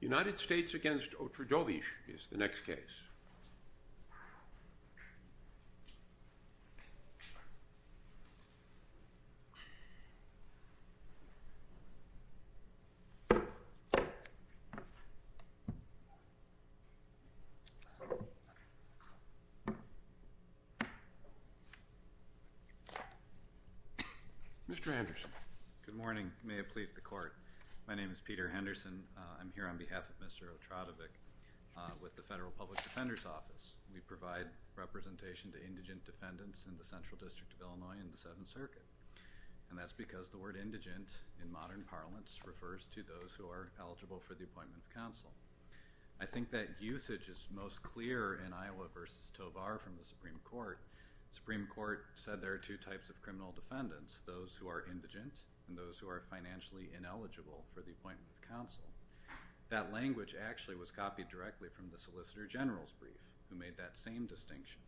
United States v. Otradovec is the next case. Mr. Anderson. Good morning. May it please the Court. My name is Peter Henderson. I'm here on behalf of Mr. Otradovec with the Federal Public Defender's Office. We provide representation to indigent defendants in the Central District of Illinois and the Seventh Circuit. And that's because the word indigent in modern parlance refers to those who are eligible for the appointment of counsel. I think that usage is most clear in Iowa v. Tovar from the Supreme Court. I think that's the case. I think that's the case. I think that's the case. I think that's the case. who are financially ineligible for the appointment of counsel, that language actually was copied directly from the Solicitor General's brief, who made that same distinction.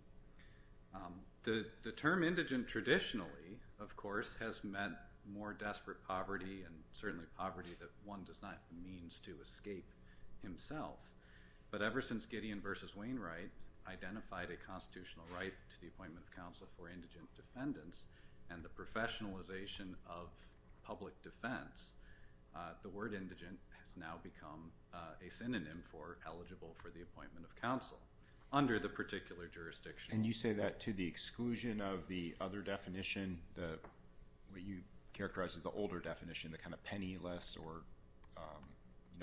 The term indigent traditionally, of course, has meant more desperate poverty, and certainly poverty that one does not have the means to escape himself. But ever since Gideon v. Wainwright identified a constitutional right to the appointment of counsel for indigent defendants, and the professionalization of public defense, the word indigent has now become a synonym for eligible for the appointment of counsel under the particular jurisdiction. And you say that to the exclusion of the other definition, what you characterize as the older definition, the kind of penniless or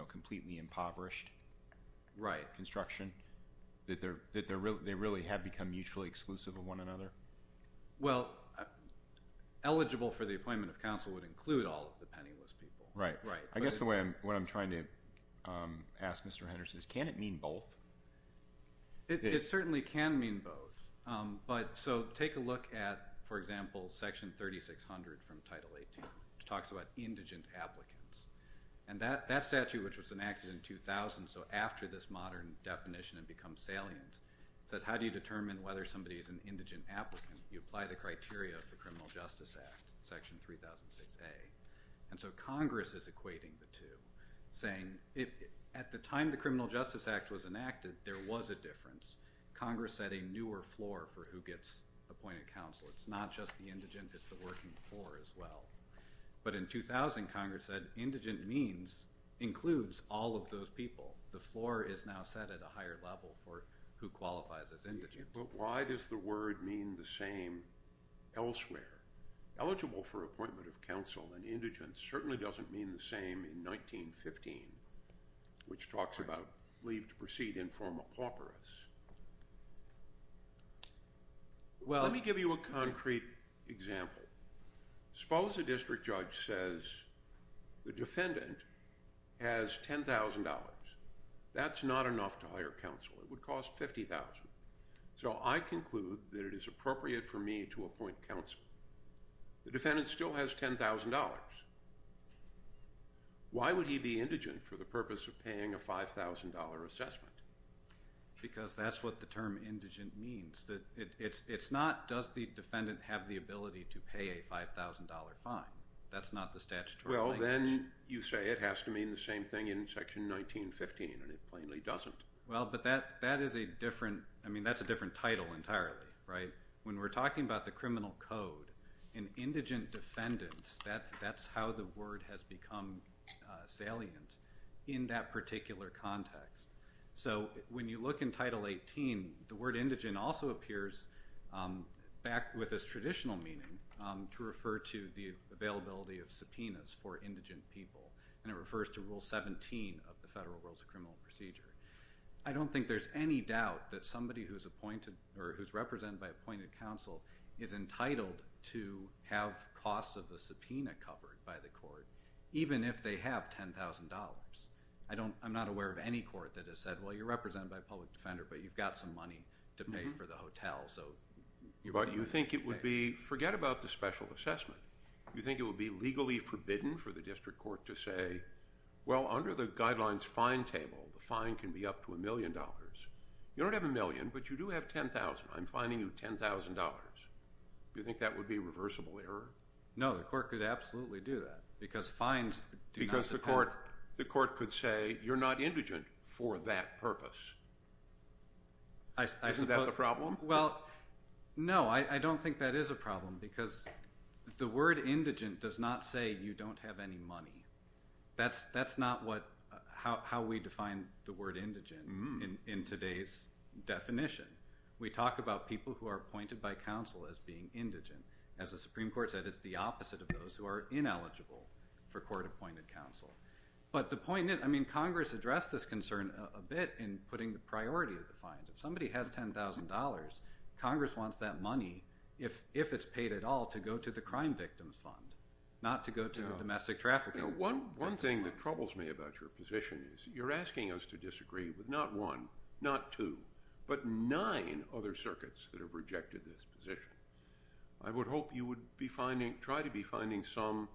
completely impoverished construction, that they really have become mutually exclusive of one another? Well, eligible for the appointment of counsel would include all of the penniless people. Right. I guess what I'm trying to ask Mr. Henderson is, can it mean both? It certainly can mean both. But so take a look at, for example, Section 3600 from Title 18, which talks about indigent applicants. And that statute, which was enacted in 2000, so after this modern definition had become salient, says how do you determine whether somebody is an indigent applicant? You apply the criteria of the Criminal Justice Act, Section 3006A. And so Congress is equating the two, saying at the time the Criminal Justice Act was enacted, there was a difference. Congress set a newer floor for who gets appointed counsel. It's not just the indigent, it's the working poor as well. But in 2000, Congress said indigent means includes all of those people. The floor is now set at a higher level for who qualifies as indigent. But why does the word mean the same elsewhere? Eligible for appointment of counsel and indigent certainly doesn't mean the same in 1915, which talks about leave to proceed in forma pauperis. Well, let me give you a concrete example. Suppose a district judge says the defendant has $10,000. That's not enough to hire counsel. It would cost $50,000. So I conclude that it is appropriate for me to appoint counsel. The defendant still has $10,000. Why would he be indigent for the purpose of paying a $5,000 assessment? Because that's what the term indigent means. It's not does the defendant have the ability to pay a $5,000 fine. That's not the statutory language. Well, then you say it has to mean the same thing in section 1915, and it plainly doesn't. Well, but that is a different, I mean, that's a different title entirely, right? When we're talking about the criminal code, an indigent defendant, that's how the word has become salient in that particular context. So when you look in Title 18, the word indigent also appears back with this traditional meaning to refer to the availability of subpoenas for indigent people. And it refers to Rule 17 of the Federal Rules of Criminal Procedure. I don't think there's any doubt that somebody who's appointed or who's represented by appointed counsel is entitled to have costs of the subpoena covered by the court, even if they have $10,000. I don't, I'm not aware of any court that has said, well, you're represented by a public defender, but you've got some money to pay for the hotel, so. But you think it would be, forget about the special assessment. You think it would be legally forbidden for the district court to say, well, under the guidelines fine table, the fine can be up to a million dollars. You don't have a million, but you do have 10,000. I'm fining you $10,000. Do you think that would be a reversible error? No, the court could absolutely do that. Because fines do not support. Because the court could say, you're not indigent for that purpose. Isn't that the problem? Well, no, I don't think that is a problem. Because the word indigent does not say you don't have any money. That's not what, how we define the word indigent in today's definition. We talk about people who are appointed by counsel as being indigent. As the Supreme Court said, it's the opposite of those who are ineligible for court-appointed counsel. But the point is, I mean, Congress addressed this concern a bit in putting the priority of the fines. If somebody has $10,000, Congress wants that money, if it's paid at all, to go to the Crime Victims Fund, not to go to the Domestic Trafficking Fund. One thing that troubles me about your position is you're asking us to disagree with not one, not two, but nine other circuits that have rejected this position. I would hope you would be finding, try to be finding some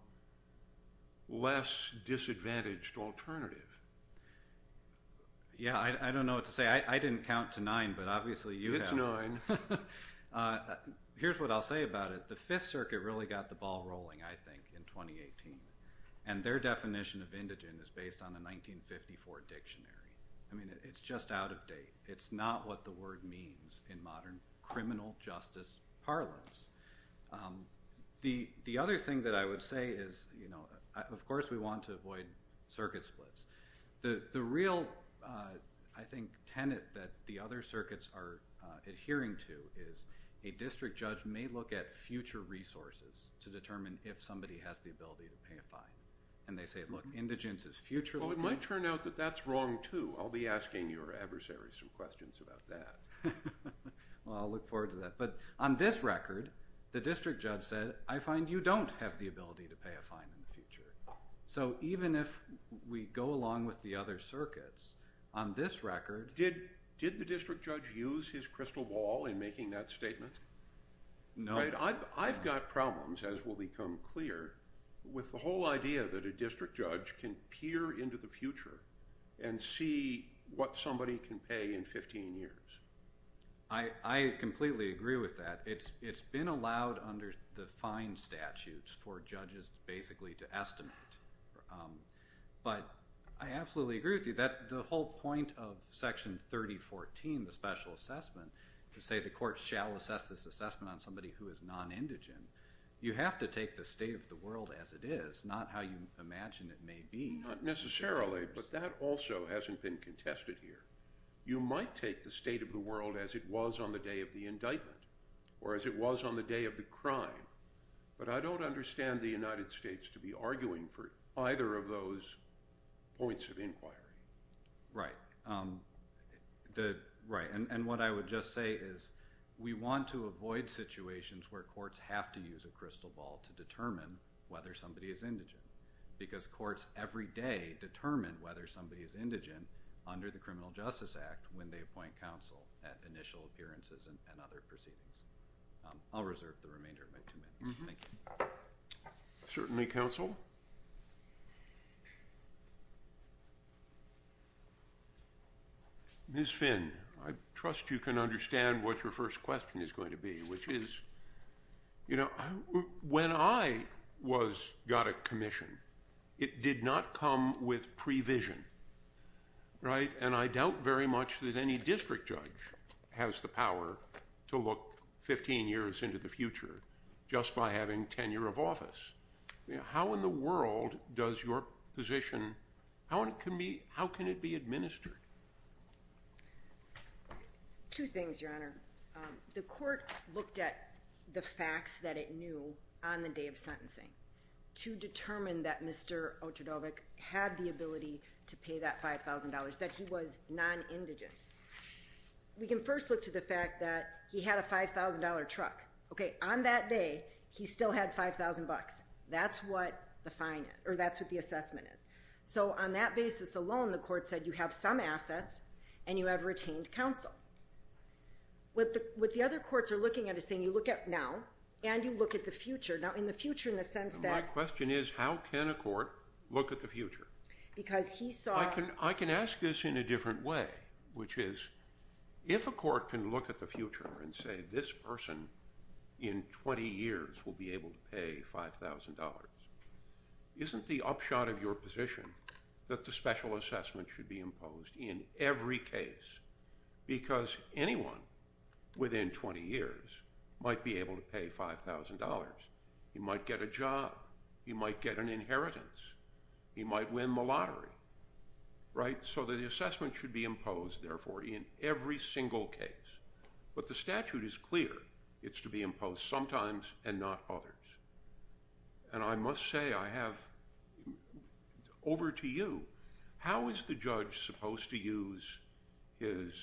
less disadvantaged alternative. Yeah, I don't know what to say. I didn't count to nine, but obviously you have. It's nine. Here's what I'll say about it. The Fifth Circuit really got the ball rolling, I think, in 2018. And their definition of indigent is based on a 1954 dictionary. I mean, it's just out of date. It's not what the word means in modern criminal justice parlance. The other thing that I would say is, of course, we want to avoid circuit splits. The real, I think, tenet that the other circuits are adhering to is a district judge may look at future resources to determine if somebody has the ability to pay a fine. And they say, look, indigent is future. Well, it might turn out that that's wrong, too. I'll be asking your adversaries some questions about that. Well, I'll look forward to that. But on this record, the district judge said, I find you don't have the ability to pay a fine in the future. So even if we go along with the other circuits, on this record... Did the district judge use his crystal ball in making that statement? No. I've got problems, as will become clear, with the whole idea that a district judge can peer into the future and see what somebody can pay in 15 years. I completely agree with that. It's been allowed under the fine statutes for judges, basically, to estimate. But I absolutely agree with you. The whole point of Section 3014, the special assessment, to say the court shall assess this assessment on somebody who is non-indigent, you have to take the state of the world as it is, not how you imagine it may be. Not necessarily, but that also hasn't been contested here. You might take the state of the world as it was on the day of the indictment, or as it was on the day of the crime, but I don't understand the United States to be arguing for either of those points of inquiry. Right. Right, and what I would just say is, we want to avoid situations where courts have to use a crystal ball to determine whether somebody is indigent, because courts every day determine whether somebody is indigent under the Criminal Justice Act when they appoint counsel at initial appearances and other proceedings. I'll reserve the remainder of my two minutes. Thank you. Certainly, counsel. Ms. Finn, I trust you can understand what your first question is going to be, which is, you know, when I got a commission, it did not come with pre-vision, right? And I doubt very much that any district judge has the power to look 15 years into the future just by having tenure of office. How in the world does your position... Two things, Your Honor. The court looked at the facts that it knew on the day of sentencing to determine that Mr. Ochodovic had the ability to pay that $5,000, that he was non-indigent. We can first look to the fact that he had a $5,000 truck. Okay, on that day, he still had $5,000. That's what the assessment is. So on that basis alone, the court said you have some assets and you have retained counsel. What the other courts are looking at is saying you look at now and you look at the future. Now, in the future, in the sense that... My question is, how can a court look at the future? Because he saw... I can ask this in a different way, which is, if a court can look at the future and say, this person in 20 years will be able to pay $5,000, isn't the upshot of your position that the special assessment should be imposed in every case? Because anyone within 20 years might be able to pay $5,000. He might get a job, he might get an inheritance, he might win the lottery, right? So the assessment should be imposed, therefore, in every single case. But the statute is clear. It's to be imposed sometimes and not others. And I must say, I have... How is the judge supposed to use his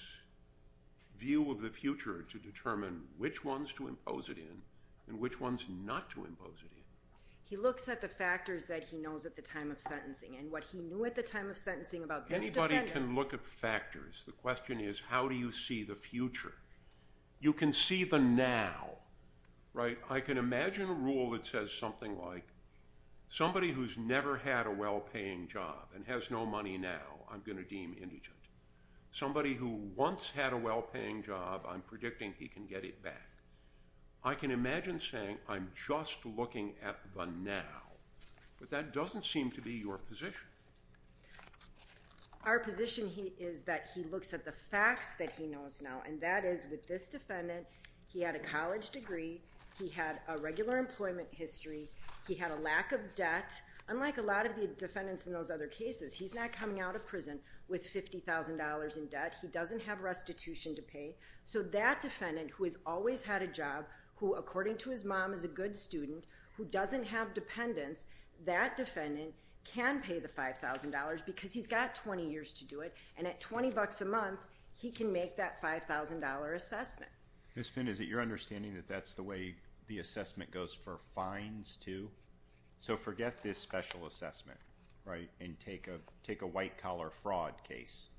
view of the future to determine which ones to impose it in and which ones not to impose it in? He looks at the factors that he knows at the time of sentencing and what he knew at the time of sentencing about this defendant... Anybody can look at factors. The question is, how do you see the future? You can see the now, right? I can imagine a rule that says something like, somebody who's never had a well-paying job and has no money now, I'm going to deem indigent. Somebody who once had a well-paying job, I'm predicting he can get it back. I can imagine saying, I'm just looking at the now. But that doesn't seem to be your position. Our position is that he looks at the facts that he knows now, and that is, with this defendant, he had a college degree, he had a regular employment history, he had a lack of debt. Unlike a lot of the defendants in those other cases, he's not coming out of prison with $50,000 in debt, he doesn't have restitution to pay. So that defendant, who has always had a job, who, according to his mom, is a good student, who doesn't have dependents, that defendant can pay the $5,000 because he's got 20 years to do it. And at 20 bucks a month, he can make that $5,000 assessment. Ms Finn, is it your understanding that that's the way the assessment goes for fines, too? So forget this special assessment, right? And take a white-collar fraud case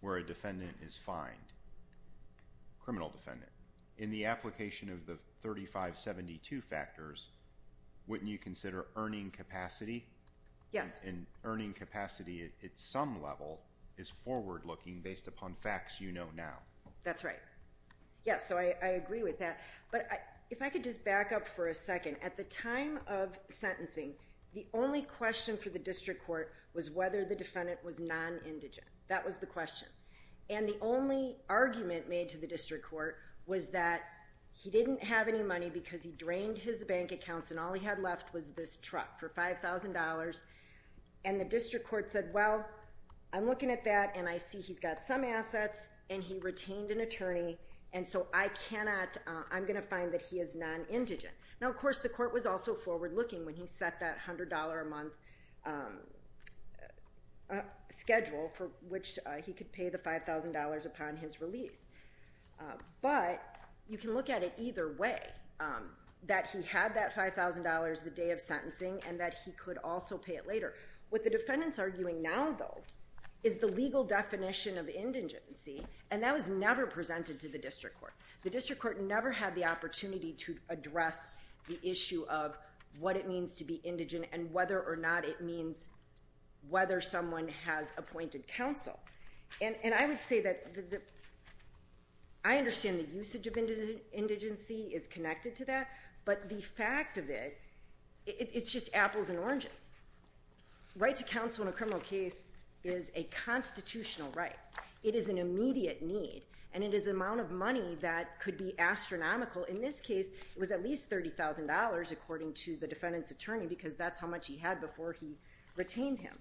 where a defendant is fined, criminal defendant. In the application of the 3572 factors, wouldn't you consider earning capacity? Yes. And earning capacity at some level is forward-looking based upon facts you know now. That's right. Yes, so I agree with that. But if I could just back up for a second, at the time of sentencing, the only question for the district court was whether the defendant was non-indigent. That was the question. And the only argument made to the district court was that he didn't have any money because he drained his bank accounts and all he had left was this truck for $5,000. And the district court said, well, I'm looking at that and I see he's got some assets and he retained an attorney, and so I'm gonna find that he is non-indigent. Now, of course, the court was also forward-looking when he set that $100 a month schedule for which he could pay the $5,000 upon his release. But you can look at it either way, that he had that $5,000 the day of sentencing and that he could also pay it later. What the defendant's arguing now, though, is the legal definition of indigency, and that was never presented to the district court. The district court never had the opportunity to address the issue of what it means to be indigent and whether or not it means whether someone has appointed counsel. And I would say that I understand the usage of indigency is connected to that, but the fact of it, it's just apples and oranges. Right to counsel in a criminal case is a constitutional right. It is an immediate need, and it is an amount of money that could be astronomical. In this case, it was at least $30,000 according to the defendant's attorney because that's how much he had before he retained him.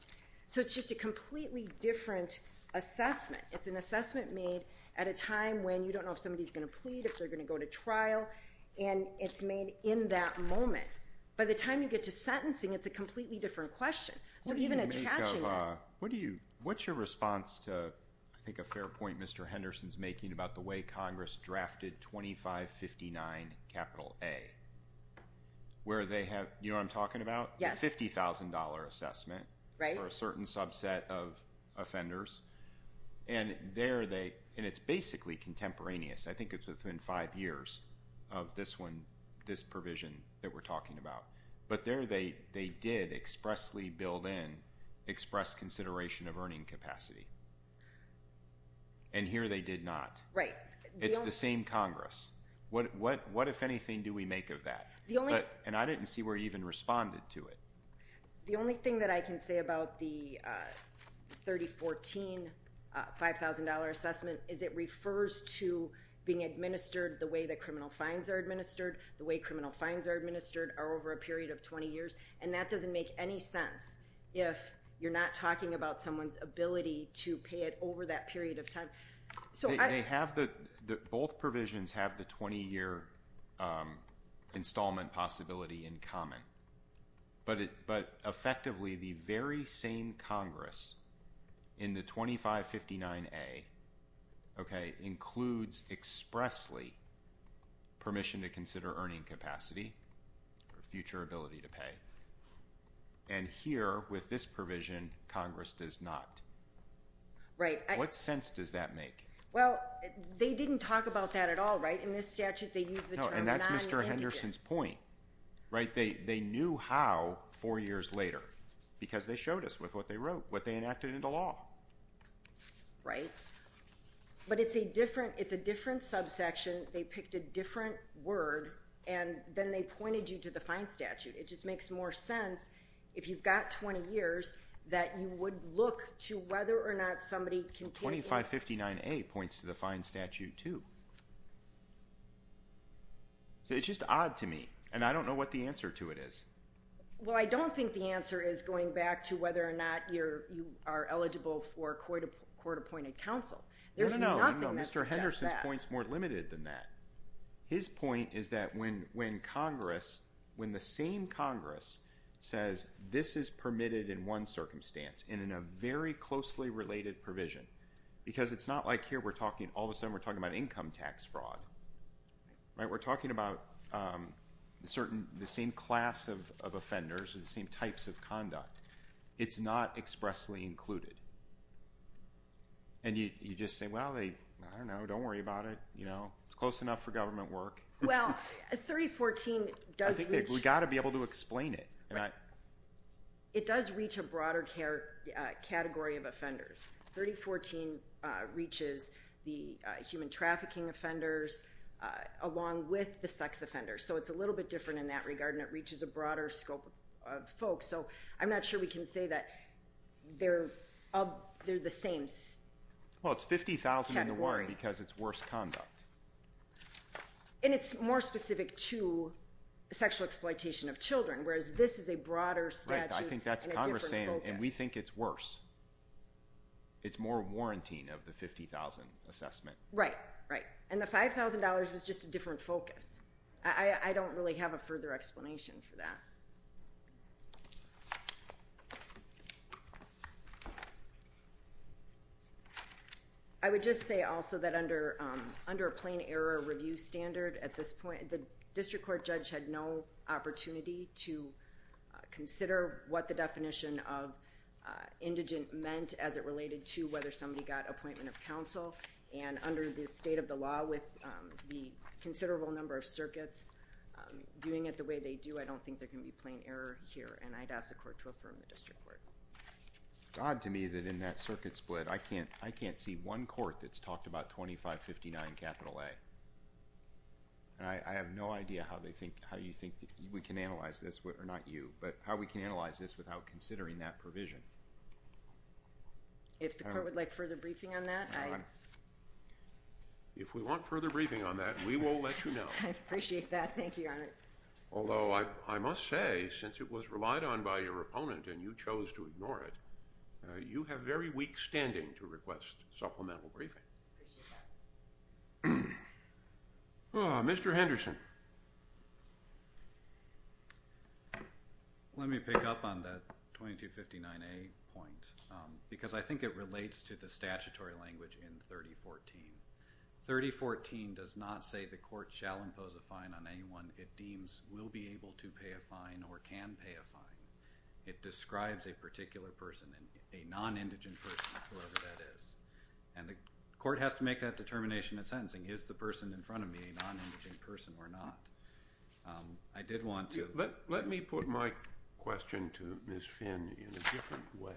So it's just a completely different assessment. It's an assessment made at a time when you don't know if somebody's gonna plead, if they're gonna go to trial, and it's made in that moment. By the time you get to sentencing, it's a completely different question. So even attaching it- What do you make of, what's your response to I think a fair point Mr. Henderson's making about the way Congress drafted 2559, capital A, where they have, you know what I'm talking about? Yes. The $50,000 assessment. Right. For a certain subset of offenders. And there they, and it's basically contemporaneous. I think it's within five years of this one, this provision that we're talking about. But there they did expressly build in, express consideration of earning capacity. And here they did not. Right. It's the same Congress. What if anything do we make of that? The only- And I didn't see where you even responded to it. The only thing that I can say about the 3014 $5,000 assessment is it refers to being administered the way that criminal fines are administered, the way criminal fines are administered are over a period of 20 years. And that doesn't make any sense if you're not talking about someone's ability to pay it over that period of time. So I- They have the, both provisions have the 20 year installment possibility in common. But effectively the very same Congress in the 2559A, okay, includes expressly permission to consider earning capacity. Or future ability to pay. And here with this provision, Congress does not. Right. What sense does that make? Well, they didn't talk about that at all, right? In this statute they use the term non-indigent. No, and that's Mr. Henderson's point, right? They knew how four years later because they showed us with what they wrote, what they enacted into law. Right. But it's a different, it's a different subsection. They picked a different word. And then they pointed you to the fine statute. It just makes more sense if you've got 20 years that you would look to whether or not somebody can- 2559A points to the fine statute too. So it's just odd to me. And I don't know what the answer to it is. Well, I don't think the answer is going back to whether or not you're, you are eligible for court appointed counsel. There's nothing that suggests that. No, no, no, Mr. Henderson's point's more limited than that. His point is that when Congress, when the same Congress says this is permitted in one circumstance and in a very closely related provision, because it's not like here we're talking, all of a sudden we're talking about income tax fraud, right? We're talking about certain, the same class of offenders or the same types of conduct. It's not expressly included. And you just say, well, they, I don't know. Don't worry about it. It's close enough for government work. Well, 3014 does- I think we gotta be able to explain it. It does reach a broader category of offenders. 3014 reaches the human trafficking offenders along with the sex offenders. So it's a little bit different in that regard and it reaches a broader scope of folks. So I'm not sure we can say that they're the same category. Well, it's 50,000 in the water because it's worse conduct. And it's more specific to sexual exploitation of children, whereas this is a broader statute and a different focus. And we think it's worse. It's more warranting of the 50,000 assessment. Right, right. And the $5,000 was just a different focus. I don't really have a further explanation for that. I would just say also that under a plain error review standard at this point, the district court judge had no opportunity to consider what the definition of indigent meant as it related to whether somebody got appointment of counsel. And under the state of the law with the considerable number of circuits viewing it the way they do, I don't think there can be plain error here. And I'd ask the court to affirm the district court. It's odd to me that in that circuit split, I can't see one court that's talked about 2559 capital A. And I have no idea how you think we can analyze this, or not you, but how we can analyze this without considering that provision. If the court would like further briefing on that, I... If we want further briefing on that, we will let you know. I appreciate that. Thank you, Your Honor. Although I must say, since it was relied on by your opponent and you chose to ignore it, you have very weak standing to request supplemental briefing. Mr. Henderson. Let me pick up on that 2259A point because I think it relates to the statutory language in 3014. 3014 does not say the court shall impose a fine on anyone it deems will be able to pay a fine or can pay a fine. It describes a particular person, a non-indigent person, whoever that is. And the court has to make that determination at sentencing. Is the person in front of me a non-indigent person or not? I did want to... Let me put my question to Ms. Finn in a different way,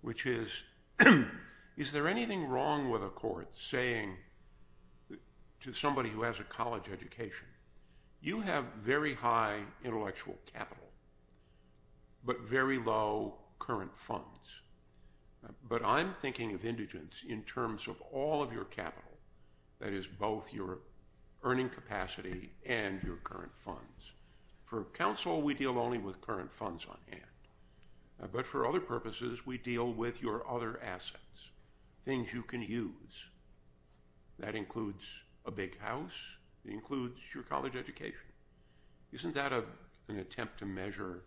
which is, is there anything wrong with a court saying to somebody who has a college education, you have very high intellectual capital, but very low current funds. But I'm thinking of indigents in terms of all of your capital, that is both your earning capacity and your current funds. For counsel, we deal only with current funds on hand. But for other purposes, we deal with your other assets, things you can use. That includes a big house. It includes your college education. Isn't that an attempt to measure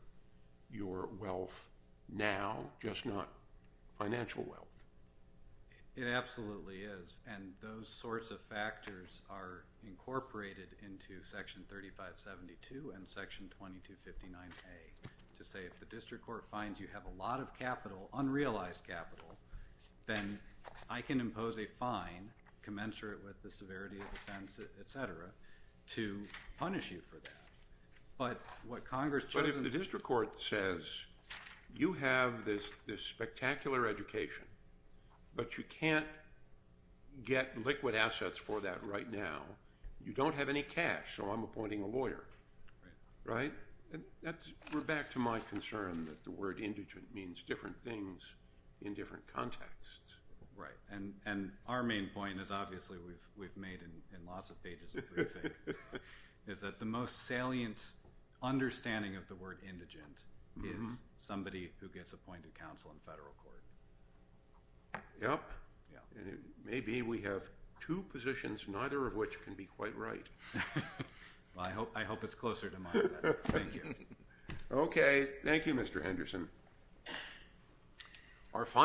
your wealth now, just not financial wealth? It absolutely is. And those sorts of factors are incorporated into section 3572 and section 2259A, to say if the district court finds you have a lot of capital, unrealized capital, then I can impose a fine commensurate with the severity of offense, et cetera, to punish you for that. But what Congress... But if the district court says, you have this spectacular education, but you can't get liquid assets for that right now, you don't have any cash, so I'm appointing a lawyer. Right? We're back to my concern that the word indigent means different things in different contexts. Right, and our main point is, and obviously we've made in lots of pages of briefing, is that the most salient understanding of the word indigent is somebody who gets appointed counsel in federal court. Yep. Maybe we have two positions, neither of which can be quite right. Well, I hope it's closer to mine, but thank you. Okay, thank you, Mr. Henderson. Our final...